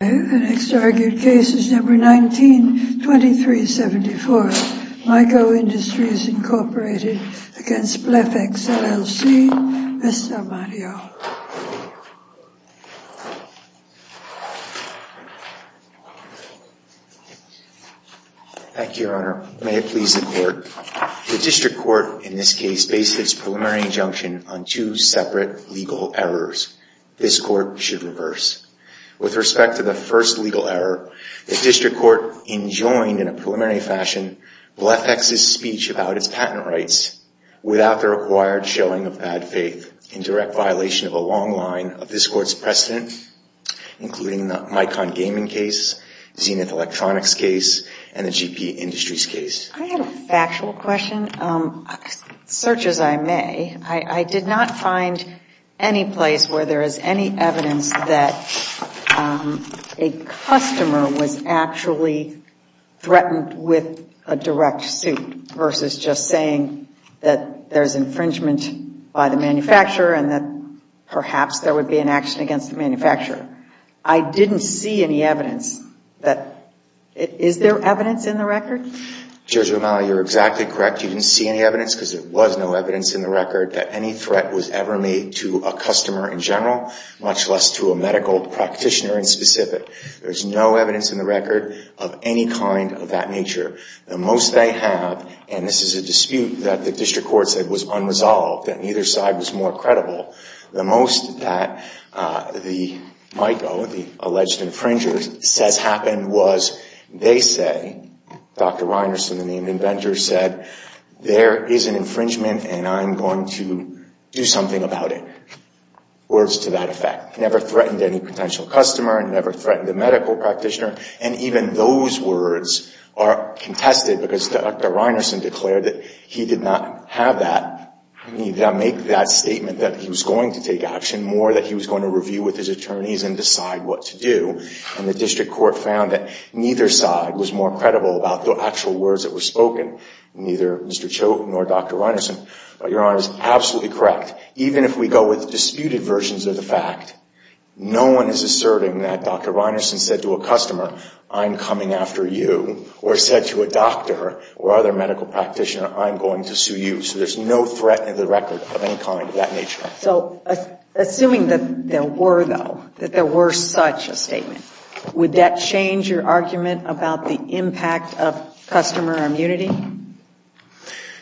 The next argued case is No. 19-2374, Myco Industries, Inc. v. BlephEx, LLC. Mr. Mario. Thank you, Your Honor. May it please the Court. The District Court in this case based its preliminary injunction on two separate legal errors. This Court should reverse. With respect to the first legal error, the District Court enjoined in a preliminary fashion, BlephEx's speech about its patent rights without the required showing of bad faith, in direct violation of a long line of this Court's precedent, including the Mycon Gaming case, Zenith Electronics case, and the GP Industries case. I have a factual question. Search as I may. I did not find any place where there is any evidence that a customer was actually threatened with a direct suit versus just saying that there's infringement by the manufacturer and that perhaps there would be an action against the manufacturer. I didn't see any evidence. Is there evidence in the record? Judge Romali, you're exactly correct. You didn't see any evidence because there was no evidence in the record that any threat was ever made to a customer in general, much less to a medical practitioner in specific. There's no evidence in the record of any kind of that nature. The most they have, and this is a dispute that the District Court said was unresolved, that neither side was more credible. The most that the Myco, the alleged infringer, says happened was they say, Dr. Reinerson, the named inventor, said there is an infringement and I'm going to do something about it. Words to that effect. Never threatened any potential customer, never threatened a medical practitioner, and even those words are contested because Dr. Reinerson declared that he did not have that. He did not make that statement that he was going to take action, more that he was going to review with his attorneys and decide what to do. And the District Court found that neither side was more credible about the actual words that were spoken, neither Mr. Choate nor Dr. Reinerson. But Your Honor is absolutely correct. Even if we go with disputed versions of the fact, no one is asserting that Dr. Reinerson said to a customer, I'm coming after you, or said to a doctor or other medical practitioner, I'm going to sue you. So there's no threat to the record of any kind of that nature. So assuming that there were, though, that there were such a statement, would that change your argument about the impact of customer immunity?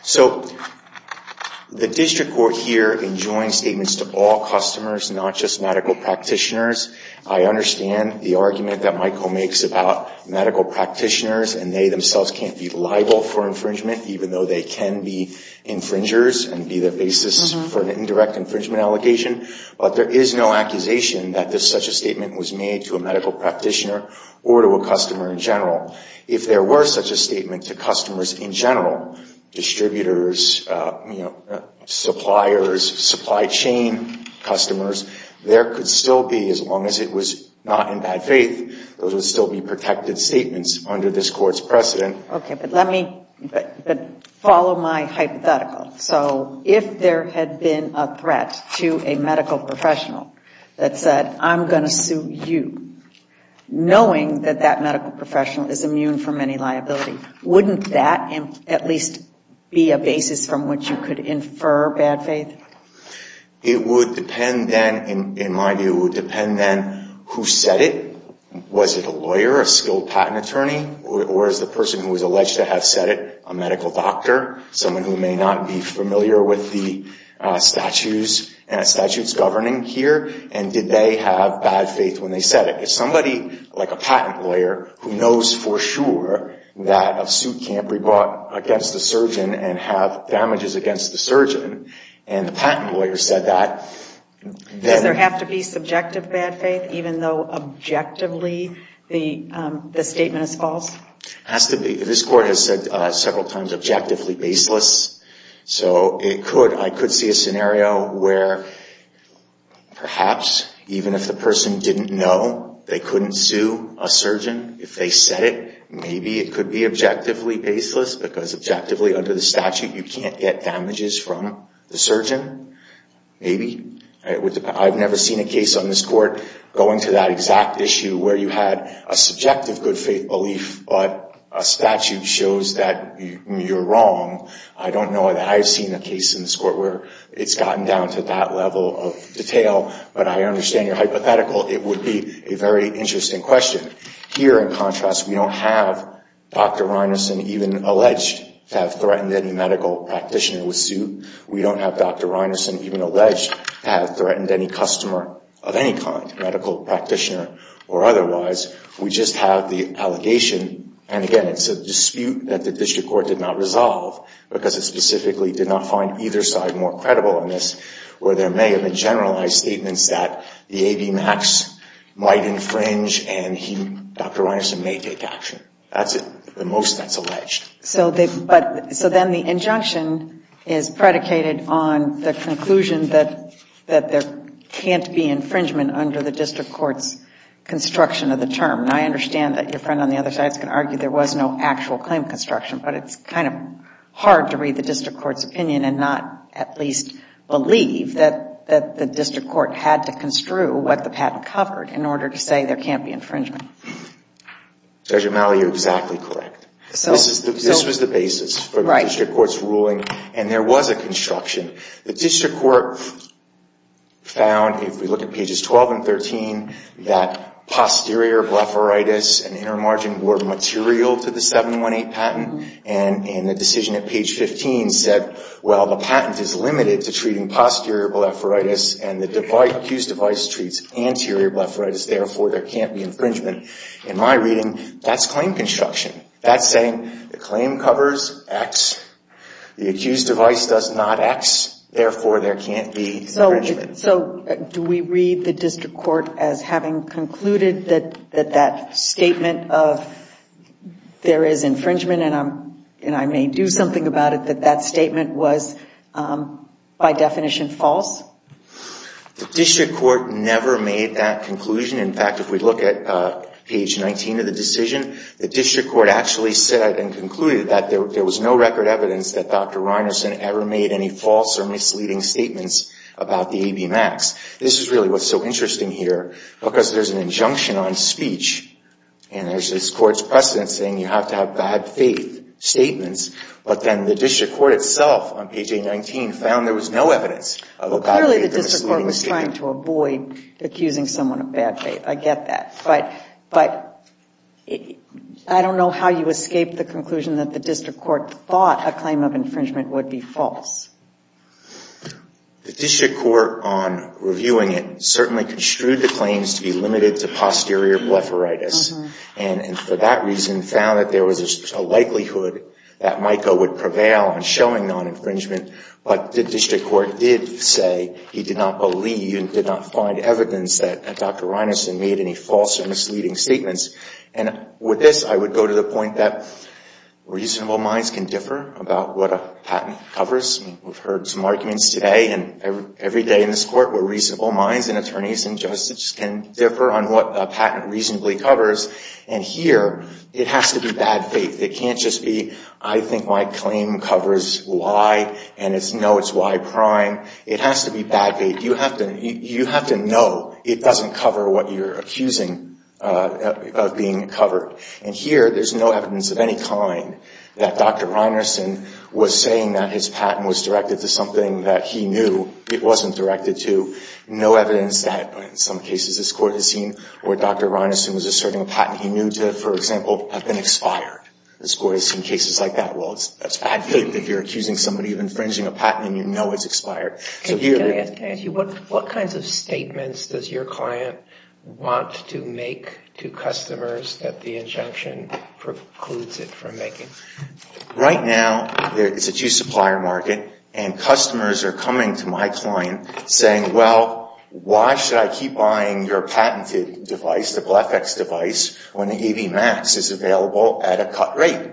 So the District Court here enjoins statements to all customers, not just medical practitioners. I understand the argument that Myco makes about medical practitioners and they themselves can't be liable for infringement, even though they can be infringers and be the basis for an indirect infringement allegation. But there is no accusation that such a statement was made to a medical practitioner or to a customer in general. If there were such a statement to customers in general, distributors, suppliers, supply chain customers, there could still be, as long as it was not in bad faith, those would still be protected statements under this Court's precedent. Okay, but let me, but follow my hypothetical. So if there had been a threat to a medical professional that said, I'm going to sue you, knowing that that medical professional is immune from any liability, wouldn't that at least be a basis from which you could infer bad faith? It would depend then, in my view, it would depend then who said it. Was it a lawyer, a skilled patent attorney, or is the person who was alleged to have said it a medical doctor, someone who may not be familiar with the statutes governing here, and did they have bad faith when they said it? If somebody, like a patent lawyer, who knows for sure that a suit can't be brought against a surgeon and have damages against the surgeon, and the patent lawyer said that, then... Does there have to be subjective bad faith, even though objectively the statement is false? Has to be. This Court has said several times, objectively baseless. So it could, I could see a scenario where perhaps, even if the person didn't know, they couldn't sue a surgeon if they said it. Maybe it could be objectively baseless, because objectively under the statute, you can't get damages from the surgeon. Maybe. I've never seen a case on this Court going to that exact issue where you had a subjective good faith belief, but a statute shows that you're wrong. I don't know that I've seen a case in this Court where it's gotten down to that level of detail, but I understand your hypothetical. It would be a very interesting question. Here, in contrast, we don't have Dr. Reinerson even alleged to have threatened any medical practitioner with suit. We don't have Dr. Reinerson even alleged to have threatened any customer of any kind, medical practitioner or otherwise. We just have the allegation, and again, it's a dispute that the District Court did not resolve, because it specifically did not find either side more credible on this, where there may have been generalized statements that the AVMAX might infringe, and Dr. Reinerson may take action. At the most, that's alleged. So then the injunction is predicated on the conclusion that there can't be infringement under the District Court's construction of the term, and I understand that your friend on the other side is going to argue there was no actual claim construction, but it's kind of hard to read the District Court's opinion and not at least believe that the District Court had to construe what the patent covered in order to say there can't be infringement. Judge O'Malley, you're exactly correct. This was the basis for the District Court's ruling, and there was a construction. The District Court found, if we look at pages 12 and 13, that posterior blepharitis and inner margin were material to the 718 patent, and the decision at page 15 said, well, the patent is limited to treating posterior blepharitis and the accused device treats anterior blepharitis. Therefore, there can't be infringement. In my reading, that's claim construction. That's saying the claim covers X. The accused device does not X. Therefore, there can't be infringement. So do we read the District Court as having concluded that that statement of there is infringement, and I may do something about it, that that statement was by definition false? The District Court never made that conclusion. In fact, if we look at page 19 of the decision, the District Court actually said and concluded that there was no record evidence that Dr. Reinerson ever made any false or misleading statements about the ABMAX. This is really what's so interesting here, because there's an injunction on speech, and there's this Court's precedent saying you have to have bad faith statements, but then the District Court itself on page 819 found there was no evidence of a bad faith or misleading statement. Well, clearly the District Court was trying to avoid accusing someone of bad faith. I get that. But I don't know how you escaped the conclusion that the District Court thought a claim of infringement would be false. The District Court on reviewing it certainly construed the claims to be limited to posterior blepharitis, and for that reason found that there was a likelihood that MICO would prevail on showing non-infringement, but the District Court did say he did not believe and did not find evidence that Dr. Reinerson made any false or misleading statements. And with this, I would go to the point that reasonable minds can differ about what a patent covers. We've heard some arguments today and every day in this Court where reasonable minds and attorneys and judges can differ on what a patent reasonably covers, and here it has to be bad faith. It can't just be I think my claim covers Y and it's no, it's Y prime. It has to be bad faith. You have to know it doesn't cover what you're accusing of being covered. And here there's no evidence of any kind that Dr. Reinerson was saying that his patent was directed to something that he knew it wasn't directed to. No evidence that in some cases this Court has seen where Dr. Reinerson was asserting a patent he knew to, for example, have been expired. This Court has seen cases like that. Well, it's bad faith that you're accusing somebody of infringing a patent and you know it's expired. Can I ask you what kinds of statements does your client want to make to customers that the injunction precludes it from making? Right now it's a two supplier market and customers are coming to my client saying, well, why should I keep buying your patented device, the BLEFX device, when the AV Max is available at a cut rate?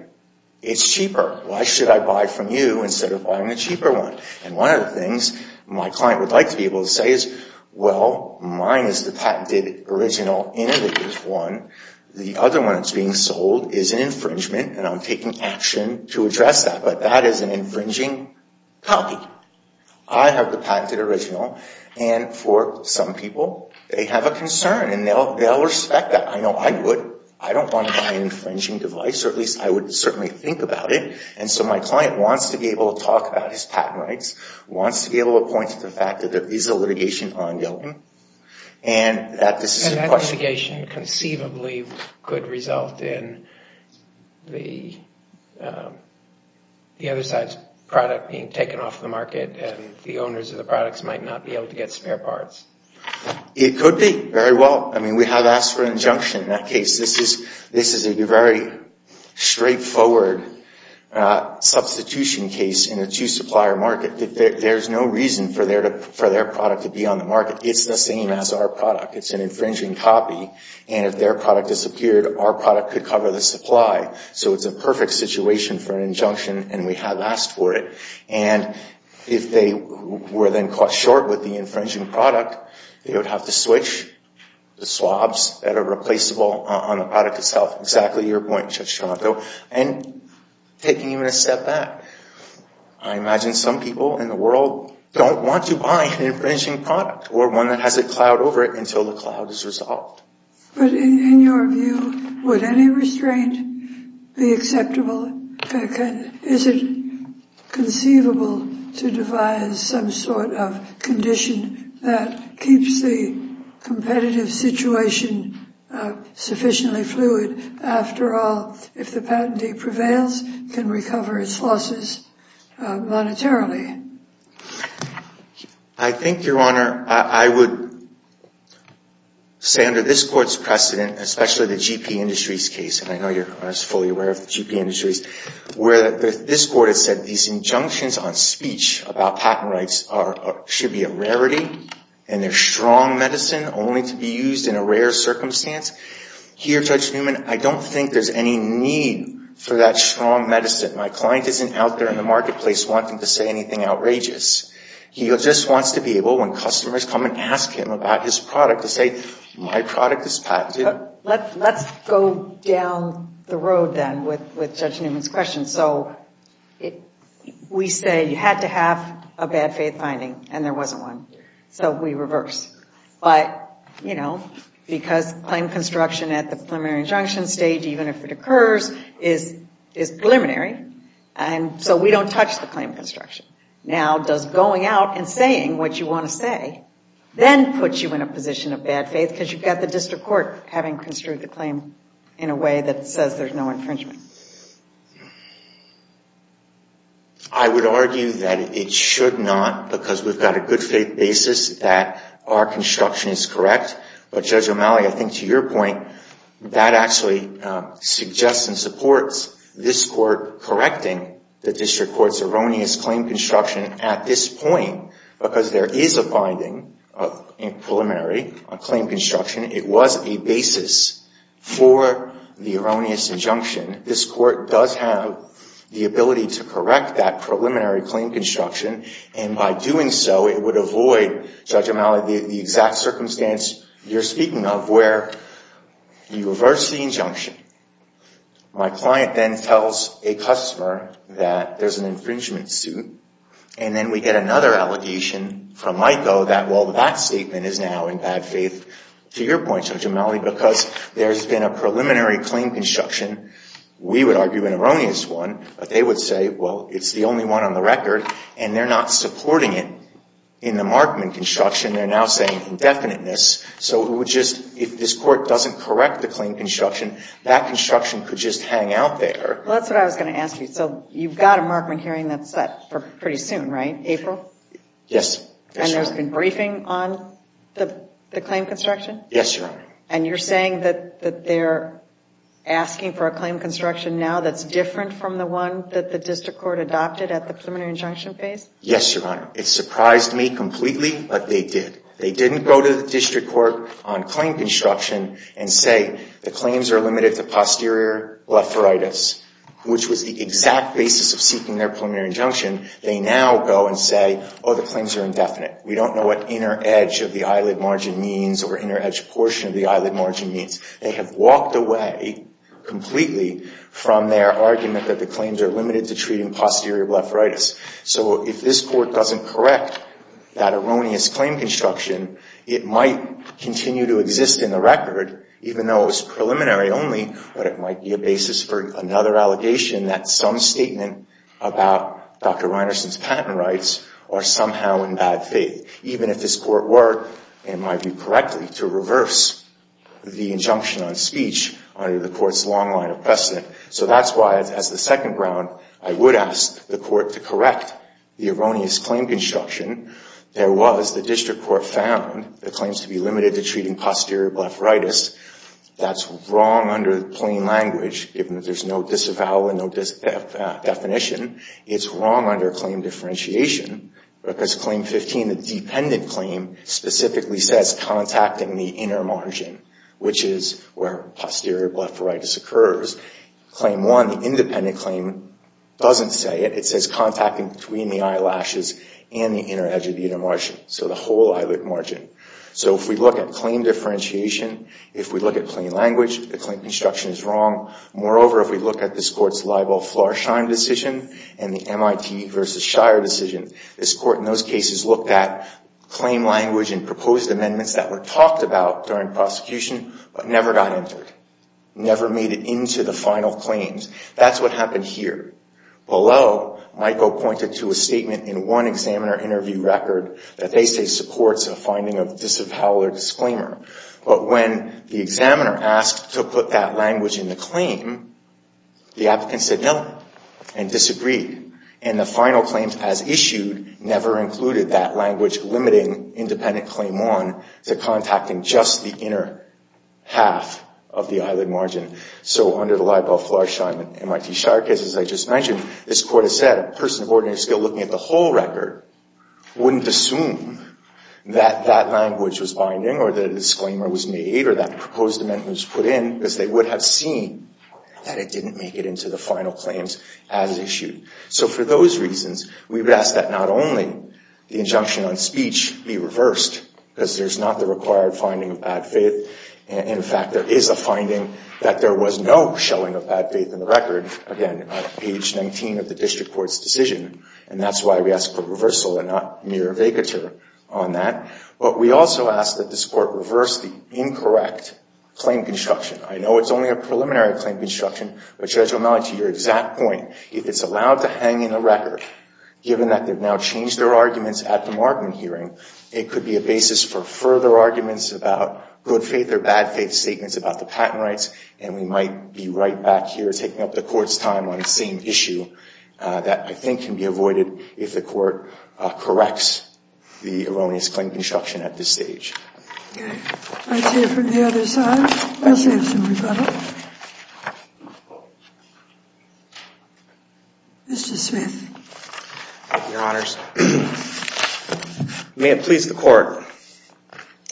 It's cheaper. Why should I buy from you instead of buying the cheaper one? And one of the things my client would like to be able to say is, well, mine is the patented original innovative one. The other one that's being sold is an infringement and I'm taking action to address that. But that is an infringing copy. I have the patented original and for some people they have a concern and they'll respect that. I know I would. I don't want to buy an infringing device or at least I would certainly think about it. And so my client wants to be able to talk about his patent rights, wants to be able to point to the fact that there is a litigation ongoing and that this is a question. And this litigation conceivably could result in the other side's product being taken off the market and the owners of the products might not be able to get spare parts. It could be. Very well. I mean, we have asked for an injunction in that case. This is a very straightforward substitution case in a two supplier market. There's no reason for their product to be on the market. It's the same as our product. It's an infringing copy and if their product disappeared, our product could cover the supply. So it's a perfect situation for an injunction and we have asked for it. And if they were then caught short with the infringing product, they would have to switch the swabs that are replaceable on the product itself. Exactly your point, Judge Toronto. And taking even a step back, I imagine some people in the world don't want to buy an infringing product or one that has a cloud over it until the cloud is resolved. But in your view, would any restraint be acceptable? Is it conceivable to devise some sort of condition that keeps the competitive situation sufficiently fluid? After all, if the patentee prevails, it can recover its losses monetarily. I think, Your Honor, I would say under this Court's precedent, especially the GP Industries case, and I know you're, Your Honor, fully aware of the GP Industries, where this Court has said these injunctions on speech about patent rights should be a rarity and they're strong medicine only to be used in a rare circumstance. Here, Judge Newman, I don't think there's any need for that strong medicine. My client isn't out there in the marketplace wanting to say anything outrageous. He just wants to be able, when customers come and ask him about his product, to say, my product is patented. Let's go down the road then with Judge Newman's question. So we say you had to have a bad faith finding, and there wasn't one. So we reverse. But, you know, because claim construction at the preliminary injunction stage, even if it occurs, is preliminary, and so we don't touch the claim construction. Now, does going out and saying what you want to say then put you in a position of bad faith? Because you've got the district court having construed the claim in a way that says there's no infringement. I would argue that it should not because we've got a good faith basis that our construction is correct. But, Judge O'Malley, I think to your point, that actually suggests and supports this court correcting the district court's erroneous claim construction at this point because there is a finding in preliminary on claim construction. It was a basis for the erroneous injunction. This court does have the ability to correct that preliminary claim construction, and by doing so, it would avoid, Judge O'Malley, the exact circumstance you're speaking of where you reverse the injunction. My client then tells a customer that there's an infringement suit, and then we get another allegation from MICO that, well, that statement is now in bad faith to your point, Judge O'Malley, because there's been a preliminary claim construction. We would argue an erroneous one, but they would say, well, it's the only one on the record, and they're not supporting it in the Markman construction. They're now saying indefiniteness. So it would just, if this court doesn't correct the claim construction, that construction could just hang out there. Well, that's what I was going to ask you. So you've got a Markman hearing that's set for pretty soon, right, April? Yes. And there's been briefing on the claim construction? Yes, Your Honor. And you're saying that they're asking for a claim construction now that's different from the one that the district court adopted at the preliminary injunction phase? Yes, Your Honor. It surprised me completely, but they did. They didn't go to the district court on claim construction and say the claims are limited to posterior blepharitis, which was the exact basis of seeking their preliminary injunction. They now go and say, oh, the claims are indefinite. We don't know what inner edge of the eyelid margin means or inner edge portion of the eyelid margin means. They have walked away completely from their argument that the claims are limited to treating posterior blepharitis. So if this court doesn't correct that erroneous claim construction, it might continue to exist in the record, even though it was preliminary only, but it might be a basis for another allegation, that some statement about Dr. Reinerson's patent rights are somehow in bad faith, even if this court were, in my view, correctly to reverse the injunction on speech under the court's long line of precedent. So that's why, as the second ground, I would ask the court to correct the erroneous claim construction. There was, the district court found, the claims to be limited to treating posterior blepharitis. That's wrong under plain language, given that there's no disavowal and no definition. It's wrong under claim differentiation, because Claim 15, the dependent claim, specifically says contacting the inner margin, which is where posterior blepharitis occurs. Claim 1, the independent claim, doesn't say it. It says contacting between the eyelashes and the inner edge of the inner margin, so the whole eyelid margin. So if we look at claim differentiation, if we look at plain language, the claim construction is wrong. Moreover, if we look at this court's libel-flarsheim decision and the MIT versus Shire decision, this court in those cases looked at claim language and proposed amendments that were talked about during prosecution, but never got entered, never made it into the final claims. That's what happened here. Below, Michael pointed to a statement in one examiner interview record that they say supports a finding of disavowal or disclaimer, but when the examiner asked to put that language in the claim, the applicant said no and disagreed, and the final claims as issued never included that language limiting independent claim 1 to contacting just the inner half of the eyelid margin. So under the libel-flarsheim MIT-Shire case, as I just mentioned, this court has said a person of ordinary skill looking at the whole record wouldn't assume that that language was binding or that a disclaimer was made or that a proposed amendment was put in because they would have seen that it didn't make it into the final claims as issued. So for those reasons, we would ask that not only the injunction on speech be reversed, because there's not the required finding of bad faith. In fact, there is a finding that there was no showing of bad faith in the record. Again, on page 19 of the district court's decision, and that's why we ask for reversal and not mere vacatur on that. But we also ask that this court reverse the incorrect claim construction. I know it's only a preliminary claim construction, but, Judge O'Malley, to your exact point, if it's allowed to hang in the record, given that they've now changed their arguments at the margin hearing, it could be a basis for further arguments about good faith or bad faith statements about the patent rights, and we might be right back here taking up the court's time on the same issue that I think can be avoided if the court corrects the erroneous claim construction at this stage. Okay. Let's hear from the other side. Let's have some rebuttal. Mr. Smith. Thank you, Your Honors. May it please the Court.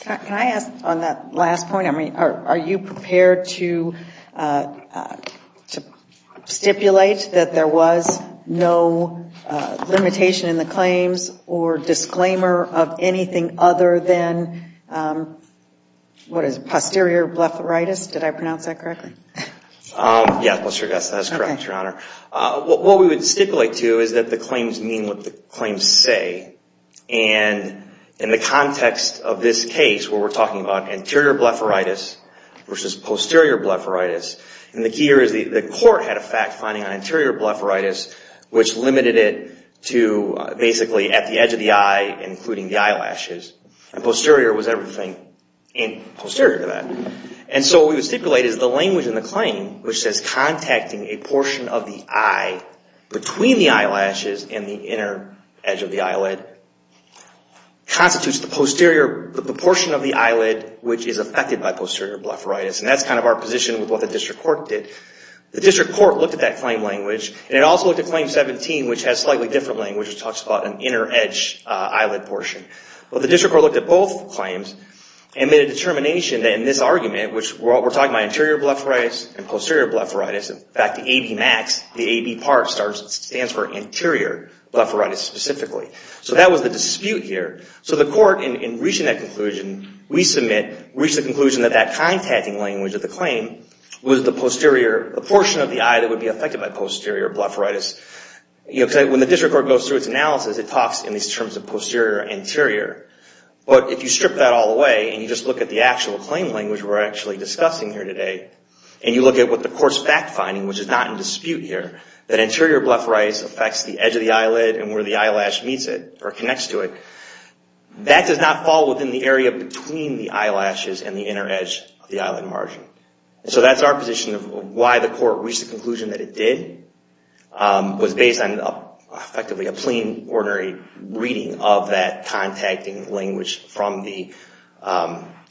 Can I ask, on that last point, are you prepared to stipulate that there was no limitation in the claims or disclaimer of anything other than, what is it, posterior blepharitis? Did I pronounce that correctly? Yes, that is correct, Your Honor. What we would stipulate, too, is that the claims mean what the claims say, and in the context of this case, where we're talking about anterior blepharitis versus posterior blepharitis, and the key here is the court had a fact finding on anterior blepharitis, which limited it to basically at the edge of the eye, including the eyelashes, and posterior was everything posterior to that. And so what we would stipulate is the language in the claim, which says contacting a portion of the eye between the eyelashes and the inner edge of the eyelid constitutes the portion of the eyelid which is affected by posterior blepharitis, and that's kind of our position with what the district court did. The district court looked at that claim language, and it also looked at Claim 17, which has slightly different language. It talks about an inner edge eyelid portion. But the district court looked at both claims and made a determination in this argument, which we're talking about anterior blepharitis and posterior blepharitis. In fact, the ABmax, the AB part stands for anterior blepharitis specifically. So that was the dispute here. So the court, in reaching that conclusion, we submit, reached the conclusion that that contacting language of the claim was the posterior portion of the eye that would be affected by posterior blepharitis. When the district court goes through its analysis, it talks in these terms of posterior and anterior. But if you strip that all away and you just look at the actual claim language which we're actually discussing here today, and you look at what the court's fact finding, which is not in dispute here, that anterior blepharitis affects the edge of the eyelid and where the eyelash meets it or connects to it, that does not fall within the area between the eyelashes and the inner edge of the eyelid margin. So that's our position of why the court reached the conclusion that it did. It was based on effectively a plain, ordinary reading of that contacting language from the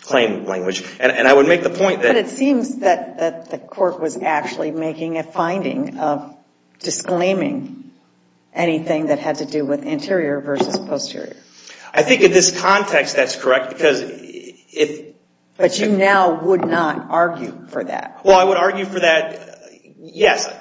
claim language. And I would make the point that... But it seems that the court was actually making a finding of disclaiming anything that had to do with anterior versus posterior. I think in this context that's correct because... But you now would not argue for that. Well, I would argue for that, yes.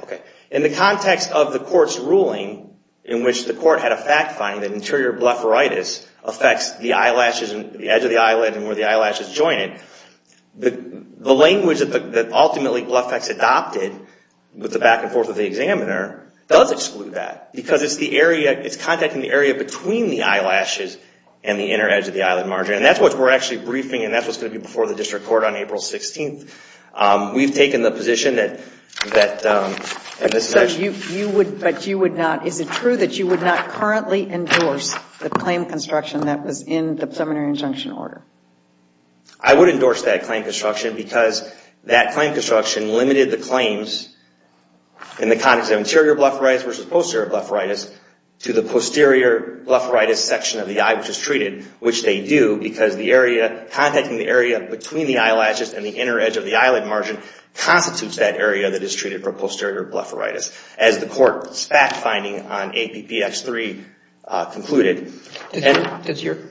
In the context of the court's ruling in which the court had a fact finding that anterior blepharitis affects the eyelashes and the edge of the eyelid and where the eyelashes join it, the language that ultimately BlephEx adopted with the back and forth of the examiner does exclude that because it's contacting the area between the eyelashes and the inner edge of the eyelid margin. And that's what we're actually briefing, and that's what's going to be before the district court on April 16th. We've taken the position that... But you would not... Is it true that you would not currently endorse the claim construction that was in the preliminary injunction order? I would endorse that claim construction because that claim construction limited the claims in the context of anterior blepharitis versus posterior blepharitis to the posterior blepharitis section of the eye which is treated, which they do because contacting the area between the eyelashes and the inner edge of the eyelid margin constitutes that area that is treated for posterior blepharitis. As the court's fact finding on APPX3 concluded... Have you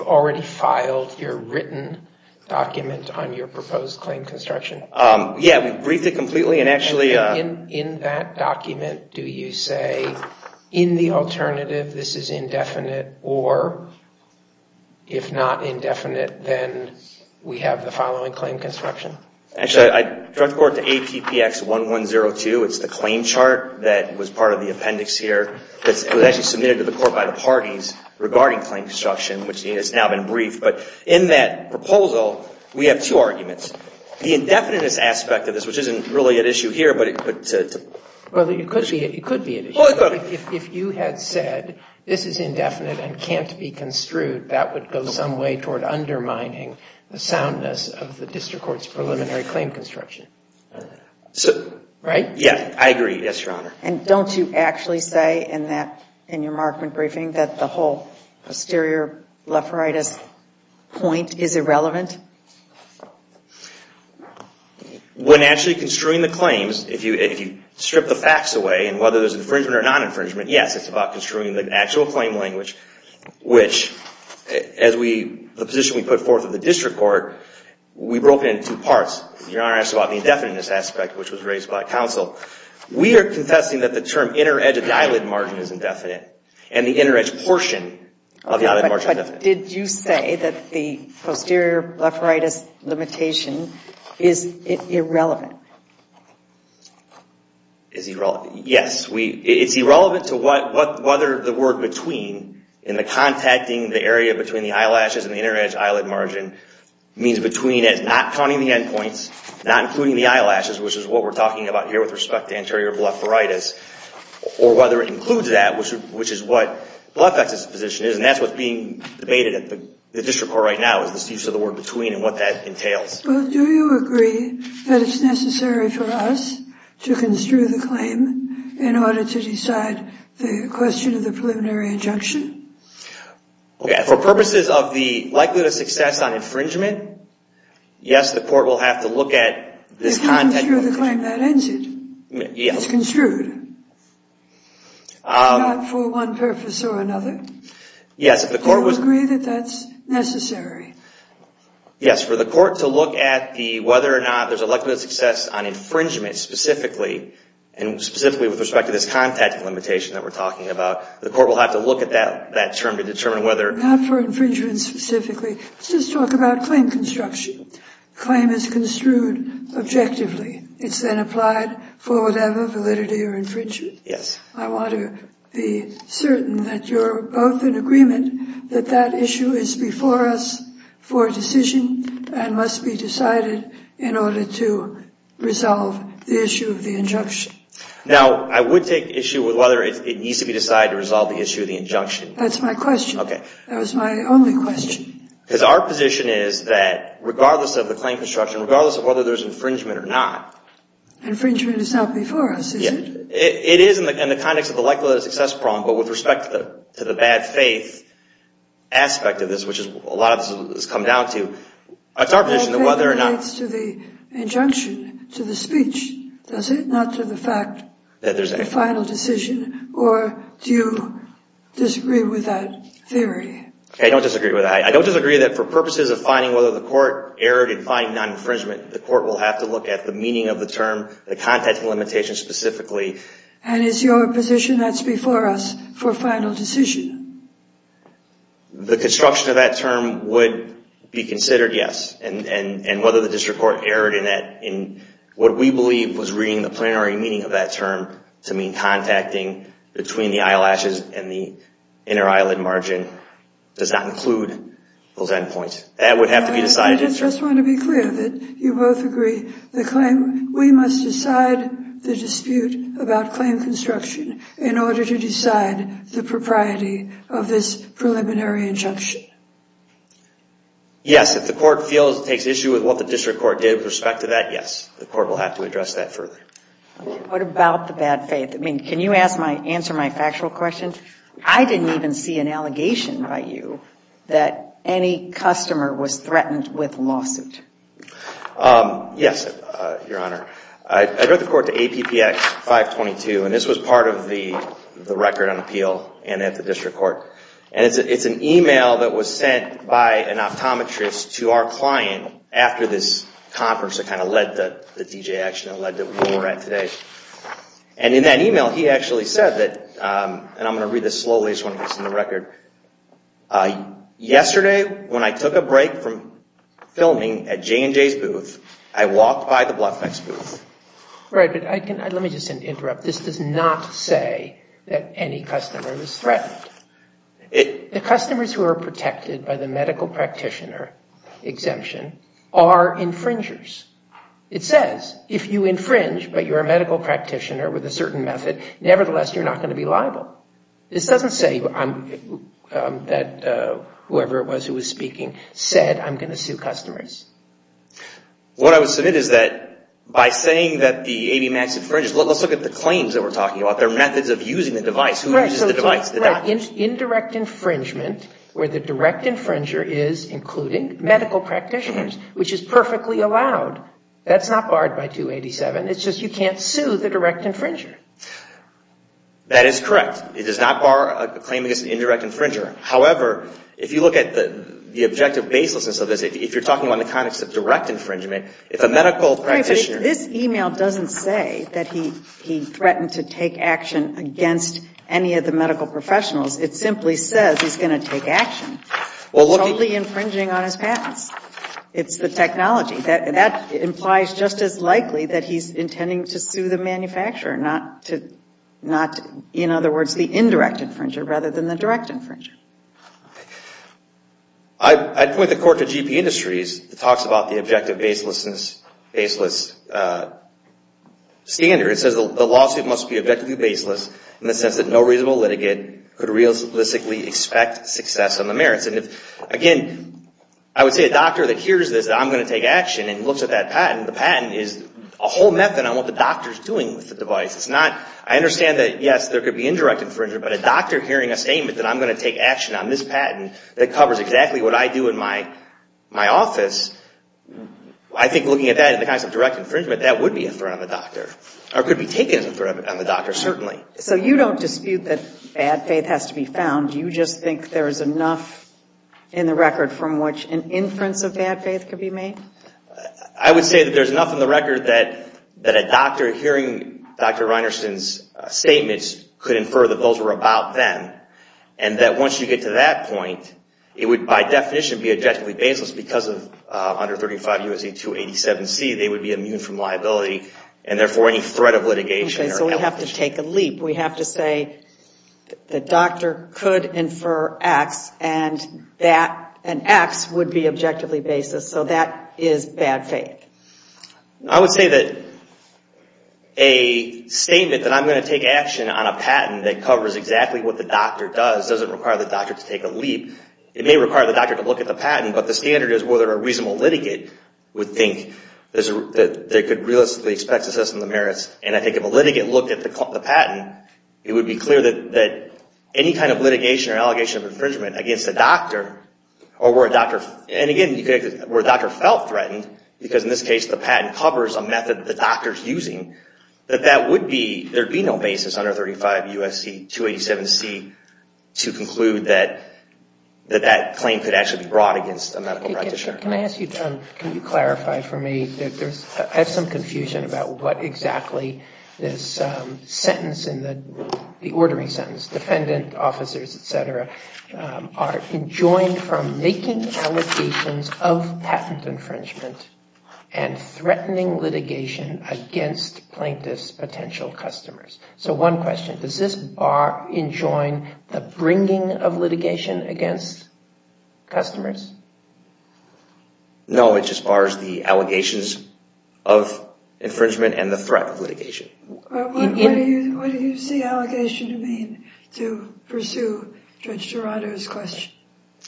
already filed your written document on your proposed claim construction? Yeah, we've briefed it completely and actually... In that document, do you say in the alternative this is indefinite or if not indefinite, then we have the following claim construction? Actually, I direct the court to APPX1102. It's the claim chart that was part of the appendix here. It was actually submitted to the court by the parties regarding claim construction, which has now been briefed. But in that proposal, we have two arguments. The indefiniteness aspect of this, which isn't really an issue here, but... Well, it could be an issue. Well, it could. If you had said this is indefinite and can't be construed, that would go some way toward undermining the soundness of the district court's preliminary claim construction. Right? Yeah, I agree. Yes, Your Honor. And don't you actually say in your markment briefing that the whole posterior blepharitis point is irrelevant? When actually construing the claims, if you strip the facts away and whether there's infringement or non-infringement, yes, it's about construing the actual claim language, which as the position we put forth in the district court, we broke it into two parts. Your Honor asked about the indefiniteness aspect, which was raised by counsel. We are confessing that the term inner edge of the eyelid margin is indefinite and the inner edge portion of the eyelid margin is indefinite. But did you say that the posterior blepharitis limitation is irrelevant? Is irrelevant? Yes. It's irrelevant to whether the word between in the contacting the area between the eyelashes and the inner edge eyelid margin means between as not counting the end points, not including the eyelashes, which is what we're talking about here with respect to anterior blepharitis, or whether it includes that, which is what blepharitis position is. And that's what's being debated at the district court right now is this use of the word between and what that entails. Well, do you agree that it's necessary for us to construe the claim in order to decide the question of the preliminary injunction? For purposes of the likelihood of success on infringement, yes, the court will have to look at this content. If you construe the claim, that ends it. It's construed. Not for one purpose or another. Do you agree that that's necessary? Yes. For the court to look at whether or not there's a likelihood of success on infringement specifically, and specifically with respect to this contact limitation that we're talking about, the court will have to look at that term to determine whether. Not for infringement specifically. Let's just talk about claim construction. Claim is construed objectively. It's then applied for whatever validity or infringement. Yes. I want to be certain that you're both in agreement that that issue is before us for decision and must be decided in order to resolve the issue of the injunction. Now, I would take issue with whether it needs to be decided to resolve the issue of the injunction. That's my question. Okay. That was my only question. Because our position is that regardless of the claim construction, regardless of whether there's infringement or not. Infringement is not before us, is it? It is in the context of the likelihood of success problem, but with respect to the bad faith aspect of this, which a lot of this has come down to, it's our position that whether or not. Bad faith relates to the injunction, to the speech, does it? Not to the fact that there's a final decision. Or do you disagree with that theory? I don't disagree with that. I don't disagree that for purposes of finding whether the court erred in finding non-infringement, the court will have to look at the meaning of the term, the contact limitation specifically. And is your position that's before us for final decision? The construction of that term would be considered yes. And whether the district court erred in what we believe was reading the plenary meaning of that term to mean contacting between the eyelashes and the inner eyelid margin does not include those end points. That would have to be decided. I just want to be clear that you both agree. We must decide the dispute about claim construction in order to decide the propriety of this preliminary injunction. Yes, if the court feels it takes issue with what the district court did with respect to that, yes. The court will have to address that further. What about the bad faith? I mean, can you answer my factual question? I didn't even see an allegation by you that any customer was threatened with lawsuit. Yes, Your Honor. I wrote the court to APPX 522, and this was part of the record on appeal and at the district court. And it's an email that was sent by an optometrist to our client after this conference that kind of led the DJ action and led to where we're at today. And in that email, he actually said that, and I'm going to read this slowly just want to listen to the record. Yesterday, when I took a break from filming at J&J's booth, I walked by the Bluff Mex booth. Right, but let me just interrupt. This does not say that any customer was threatened. The customers who are protected by the medical practitioner exemption are infringers. It says if you infringe but you're a medical practitioner with a certain method, nevertheless, you're not going to be liable. This doesn't say that whoever it was who was speaking said, I'm going to sue customers. What I would submit is that by saying that the ABMAX infringes, let's look at the claims that we're talking about. There are methods of using the device. Who uses the device? Indirect infringement where the direct infringer is including medical practitioners, which is perfectly allowed. That's not barred by 287. It's just you can't sue the direct infringer. That is correct. It does not bar a claim against an indirect infringer. However, if you look at the objective baselessness of this, if you're talking about the context of direct infringement, if a medical practitioner – Right, but this e-mail doesn't say that he threatened to take action against any of the medical professionals. It simply says he's going to take action. It's only infringing on his patents. It's the technology. That implies just as likely that he's intending to sue the manufacturer, not, in other words, the indirect infringer, rather than the direct infringer. I'd point the court to GP Industries. It talks about the objective baselessness standard. It says the lawsuit must be objectively baseless in the sense that no reasonable litigant could realistically expect success on the merits. Again, I would say a doctor that hears this, I'm going to take action, and looks at that patent, the patent is a whole method on what the doctor is doing with the device. It's not – I understand that, yes, there could be indirect infringement, but a doctor hearing a statement that I'm going to take action on this patent that covers exactly what I do in my office, I think looking at that in the context of direct infringement, that would be a threat on the doctor, or could be taken as a threat on the doctor, certainly. So you don't dispute that bad faith has to be found. You just think there is enough in the record from which an inference of bad faith could be made? I would say that there is enough in the record that a doctor hearing Dr. Reinerson's statements could infer that those were about them, and that once you get to that point, it would by definition be objectively baseless because of under 35 U.S.A. 287C, they would be immune from liability, and therefore any threat of litigation. Okay, so we have to take a leap. We have to say the doctor could infer X, and X would be objectively baseless. So that is bad faith. I would say that a statement that I'm going to take action on a patent that covers exactly what the doctor does doesn't require the doctor to take a leap. It may require the doctor to look at the patent, but the standard is whether a reasonable litigate would think that they could realistically expect to assess the merits, and I think if a litigate looked at the patent, it would be clear that any kind of litigation or allegation of infringement against the doctor, or where a doctor, and again, where a doctor felt threatened, because in this case the patent covers a method that the doctor is using, that that would be, there would be no basis under 35 U.S.A. 287C to conclude that that claim could actually be brought against a medical practitioner. Can I ask you, can you clarify for me, I have some confusion about what exactly this sentence, the ordering sentence, defendant, officers, et cetera, are enjoined from making allegations of patent infringement and threatening litigation against plaintiff's potential customers. So one question, does this bar enjoin the bringing of litigation against customers? No, it just bars the allegations of infringement and the threat of litigation. What do you see allegation to mean to pursue Judge Durato's question?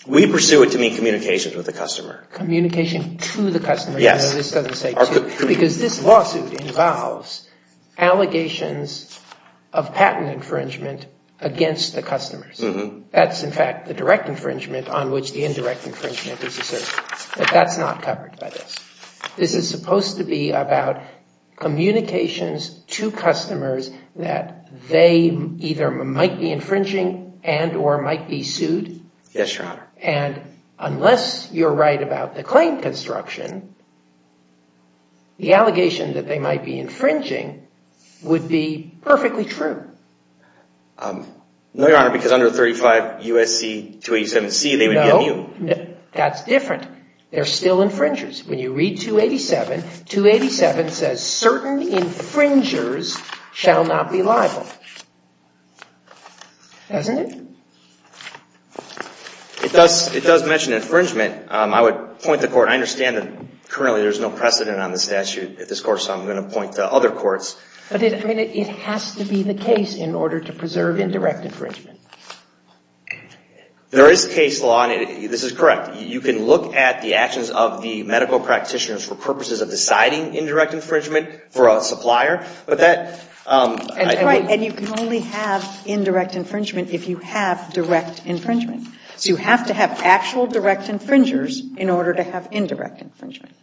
We pursue it to mean communication with the customer. Communication to the customer. Yes. Because this lawsuit involves allegations of patent infringement against the customers. That's in fact the direct infringement on which the indirect infringement is asserted. But that's not covered by this. This is supposed to be about communications to customers that they either might be infringing and or might be sued? Yes, Your Honor. And unless you're right about the claim construction, the allegation that they might be infringing would be perfectly true. No, Your Honor, because under 35 U.S.A. 287C they would be immune. No, that's different. They're still infringers. When you read 287, 287 says certain infringers shall not be liable. Doesn't it? It does mention infringement. I would point to court. I understand that currently there's no precedent on the statute at this court, so I'm going to point to other courts. But it has to be the case in order to preserve indirect infringement. There is case law, and this is correct. You can look at the actions of the medical practitioners for purposes of deciding indirect infringement for a supplier. That's right, and you can only have indirect infringement if you have direct infringement. So you have to have actual direct infringers in order to have indirect infringement.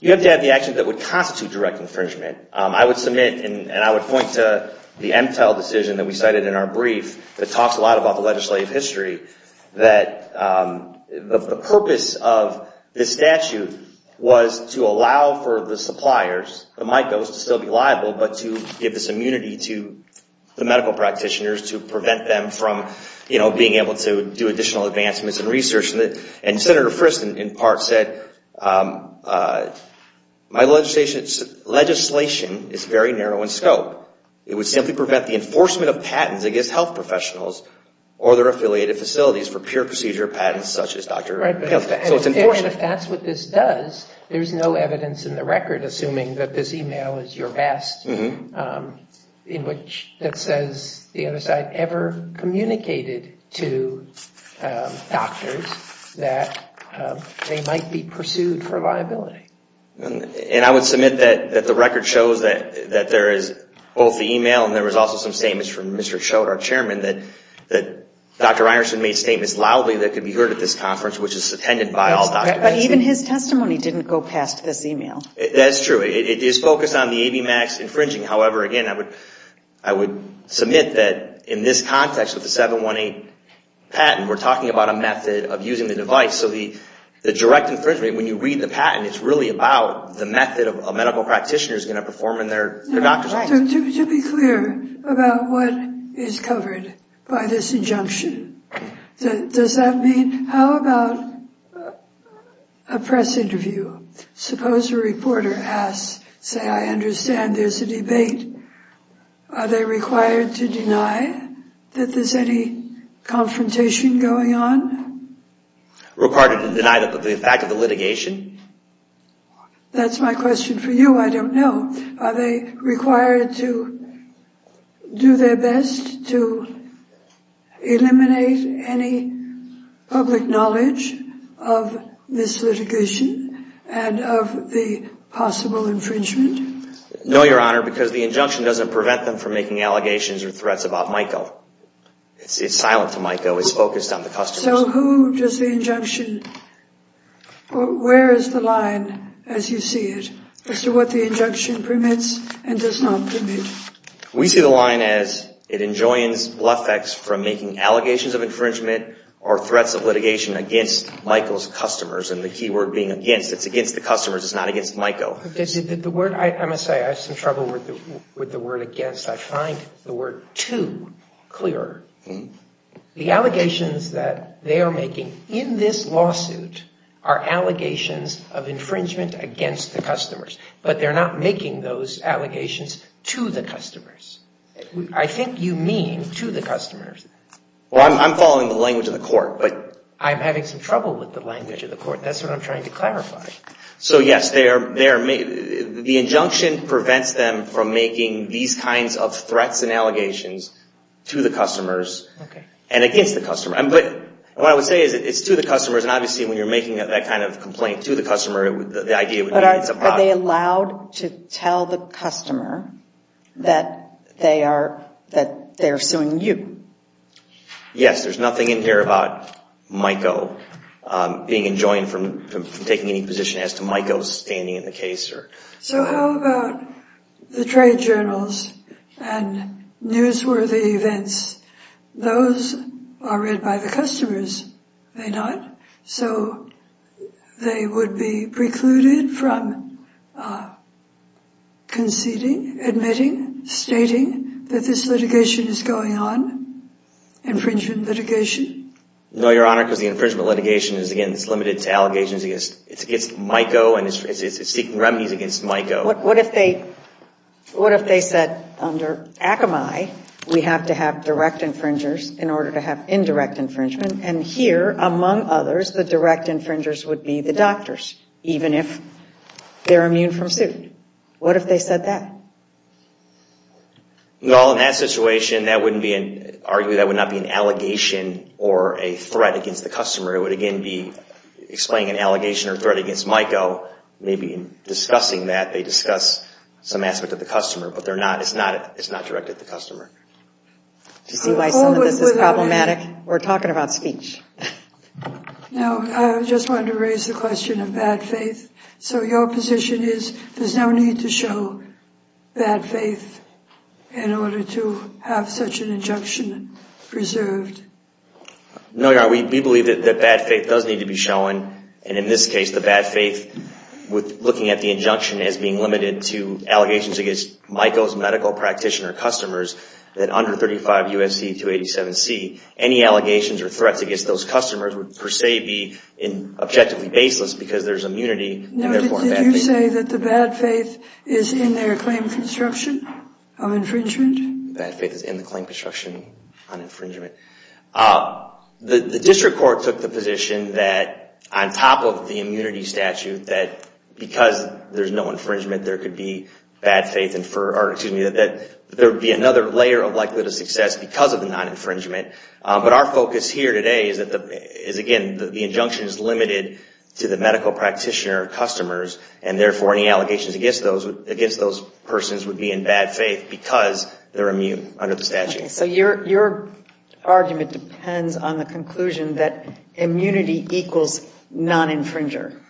You have to have the action that would constitute direct infringement. I would submit and I would point to the MTEL decision that we cited in our The purpose of the statute was to allow for the suppliers, the MICOs, to still be liable, but to give this immunity to the medical practitioners to prevent them from being able to do additional advancements in research. And Senator Frist, in part, said my legislation is very narrow in scope. It would simply prevent the enforcement of patents against health professionals or their affiliated facilities for pure procedure patents such as Dr. Pelfeck. Right, but if that's what this does, there's no evidence in the record, assuming that this email is your best, in which it says the other side ever communicated to doctors that they might be pursued for liability. And I would submit that the record shows that there is both the email and there was also some statements from Mr. Schroeder, our chairman, that Dr. But even his testimony didn't go past this email. That's true. It is focused on the ABMAX infringing. However, again, I would submit that in this context with the 718 patent, we're talking about a method of using the device. So the direct infringement, when you read the patent, it's really about the method a medical practitioner is going to perform in their doctor's office. To be clear about what is covered by this injunction, does that mean how about a press interview? Suppose a reporter asks, say, I understand there's a debate. Are they required to deny that there's any confrontation going on? Required to deny the fact of the litigation? That's my question for you. I don't know. Are they required to do their best to eliminate any public knowledge of this litigation and of the possible infringement? No, Your Honor, because the injunction doesn't prevent them from making allegations or threats about MICO. It's silent to MICO. It's focused on the customers. So who does the injunction or where is the line, as you see it, as to what the injunction permits and does not permit? We see the line as it enjoins BLEFECs from making allegations of infringement or threats of litigation against MICO's customers, and the key word being against. It's against the customers. It's not against MICO. I'm going to say I have some trouble with the word against. I find the word too clear. The allegations that they are making in this lawsuit are allegations of infringement against customers, but they're not making those allegations to the customers. I think you mean to the customers. Well, I'm following the language of the court. I'm having some trouble with the language of the court. That's what I'm trying to clarify. So, yes, the injunction prevents them from making these kinds of threats and allegations to the customers and against the customers. What I would say is it's to the customers, and obviously when you're making that kind of complaint to the customer, the idea would be it's about. But are they allowed to tell the customer that they are suing you? Yes. There's nothing in here about MICO being enjoined from taking any position as to MICO standing in the case. So how about the trade journals and newsworthy events? Those are read by the customers, are they not? So they would be precluded from conceding, admitting, stating that this litigation is going on, infringement litigation? No, Your Honor, because the infringement litigation is, again, it's limited to allegations against MICO, and it's seeking remedies against MICO. What if they said under Akamai, we have to have direct infringers in order to have indirect infringement, and here, among others, the direct infringers would be the doctors, even if they're immune from suit. What if they said that? Well, in that situation, arguably that would not be an allegation or a threat against the customer. It would, again, be explaining an allegation or threat against MICO. Maybe in discussing that, they discuss some aspect of the customer, but it's not directed at the customer. Do you see why some of this is problematic? We're talking about speech. No, I just wanted to raise the question of bad faith. So your position is there's no need to show bad faith in order to have such an injunction preserved? No, Your Honor, we believe that bad faith does need to be shown, and in this case, the bad faith, looking at the injunction as being limited to allegations against MICO's medical practitioner customers, that under 35 U.S.C. 287C, any allegations or threats against those customers would, per se, be objectively baseless because there's immunity and, therefore, bad faith. Now, did you say that the bad faith is in their claim construction of infringement? Bad faith is in the claim construction on infringement. The district court took the position that, on top of the immunity statute, that because there's no infringement, there could be bad faith, and that there would be another layer of likelihood of success because of the non-infringement. But our focus here today is, again, the injunction is limited to the medical practitioner customers, and, therefore, any allegations against those persons would be in bad faith because they're immune under the statute. So your argument depends on the conclusion that immunity equals non-infringer.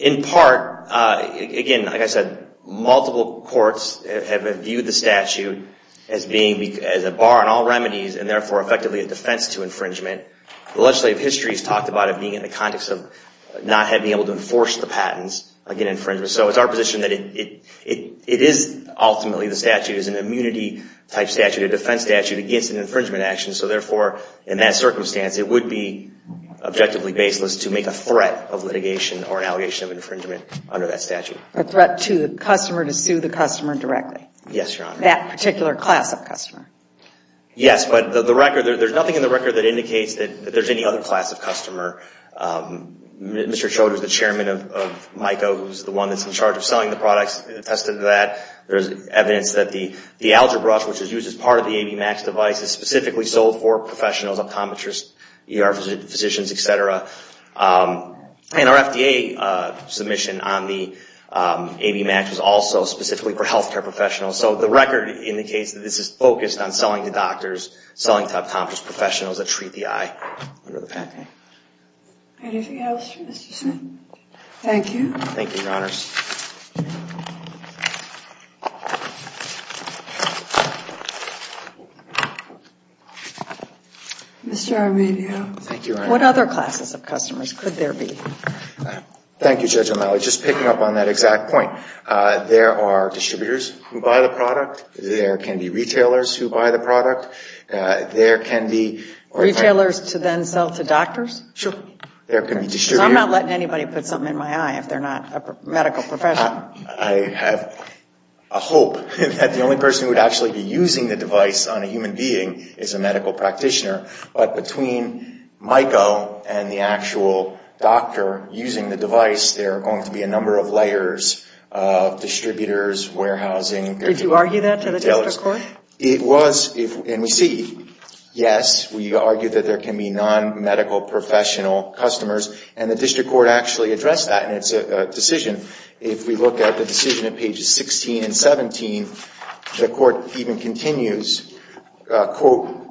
In part, again, like I said, multiple courts have viewed the statute as a bar on all remedies and, therefore, effectively a defense to infringement. The legislative history has talked about it being in the context of not having been able to enforce the patents against infringement. So it's our position that it is, ultimately, the statute is an immunity-type statute, a defense statute against an infringement action. So, therefore, in that circumstance, it would be objectively baseless to make a threat of litigation or an allegation of infringement under that statute. A threat to the customer to sue the customer directly? Yes, Your Honor. That particular class of customer? Mr. Chodos, the chairman of MICA, who's the one that's in charge of selling the products, attested to that. There's evidence that the Algebra, which is used as part of the AV Max device, is specifically sold for professionals, optometrists, ER physicians, etc. And our FDA submission on the AV Max was also specifically for healthcare professionals. So the record indicates that this is focused on selling to doctors, selling to optometrists, professionals that treat the eye under the patent. Anything else for Mr. Smith? Thank you, Your Honors. Mr. Arminio. Thank you, Your Honor. What other classes of customers could there be? Thank you, Judge O'Malley. Just picking up on that exact point, there are distributors who buy the product, there can be retailers who buy the product, there can be... Retailers to then sell to doctors? Sure. There can be distributors... So I'm not letting anybody put something in my eye if they're not a medical professional. I have a hope that the only person who would actually be using the device on a human being is a medical practitioner. But between MICA and the actual doctor using the device, there are going to be a number of layers of distributors, warehousing... Did you argue that to the district court? It was, and we see, yes, we argue that there can be non-medical professional customers, and the district court actually addressed that in its decision. If we look at the decision at pages 16 and 17, the court even continues, quote,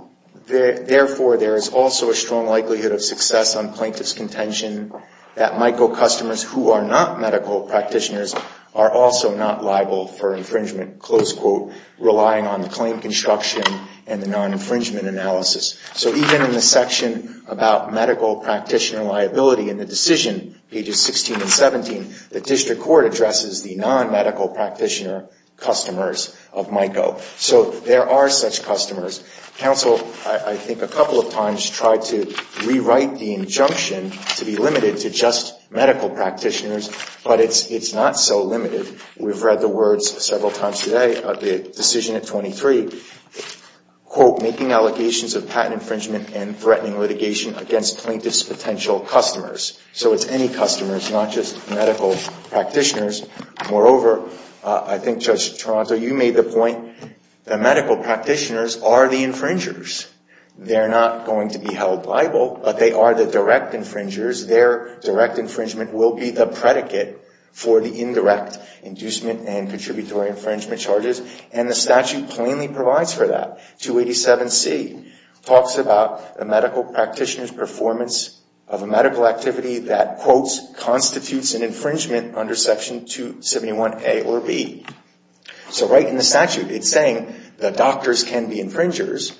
therefore there is also a strong likelihood of success on plaintiff's contention that MICA customers who are not medical practitioners are also not liable for infringement, close quote, relying on the claim construction and the non-infringement analysis. So even in the section about medical practitioner liability in the decision, pages 16 and 17, the district court addresses the non-medical practitioner customers of MICA. So there are such customers. Counsel, I think, a couple of times tried to rewrite the injunction to be limited to just medical practitioners, but it's not so limited. We've read the words several times today of the decision at 23, quote, making allegations of patent infringement and threatening litigation against plaintiff's potential customers. So it's any customers, not just medical practitioners. Moreover, I think, Judge Toronto, you made the point that medical practitioners are the infringers. They're not going to be held liable, but they are the direct infringers. Their direct infringement will be the predicate for the indirect inducement and contributory infringement charges, and the statute plainly provides for that. 287C talks about the medical practitioner's performance of a medical activity that, quote, constitutes an infringement under Section 271A or B. So right in the statute, it's saying the doctors can be infringers.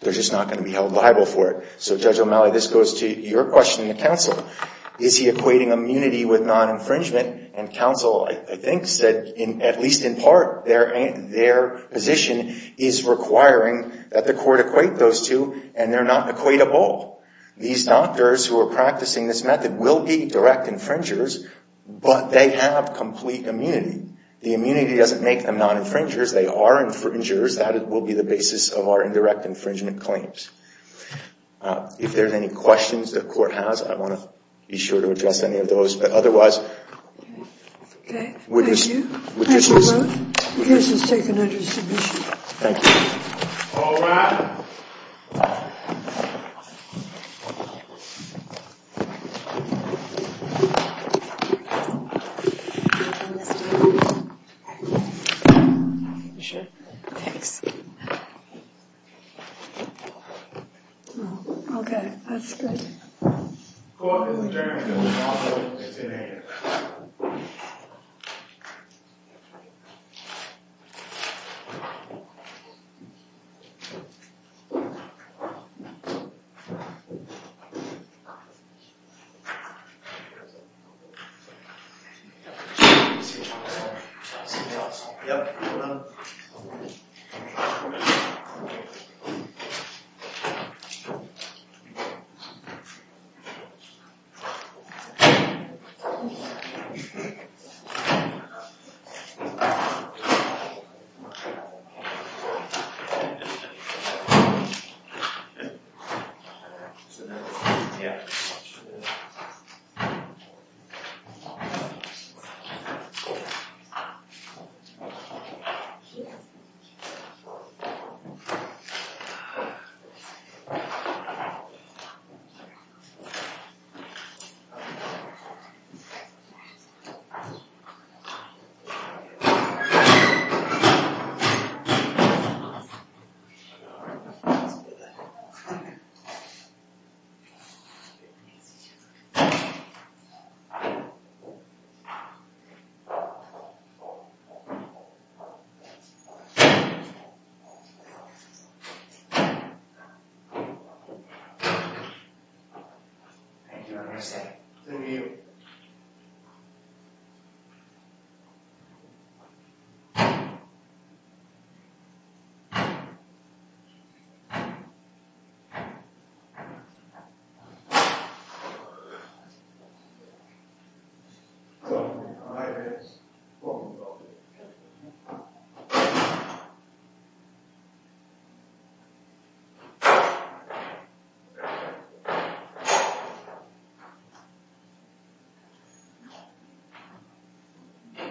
They're just not going to be held liable for it. So, Judge O'Malley, this goes to your question to counsel. Is he equating immunity with non-infringement? And counsel, I think, said, at least in part, their position is requiring that the court equate those two, and they're not equatable. These doctors who are practicing this method will be direct infringers, but they have complete immunity. The immunity doesn't make them non-infringers. They are infringers. That will be the basis of our indirect infringement claims. If there are any questions the court has, I want to be sure to address any of those. But otherwise, witnesses. Thank you. The case is taken under submission. Thank you. All rise. Thank you. You can come this way. You sure? Thanks. Okay. That's good. Go out in the direction of the hospital. It's in there. Yeah. Yeah. Yeah. Yeah. Yeah. Yeah. Yeah. Yeah. Yeah. Yeah. Yeah. Thank you. Thank you. Thank you. Thank you. Thank you.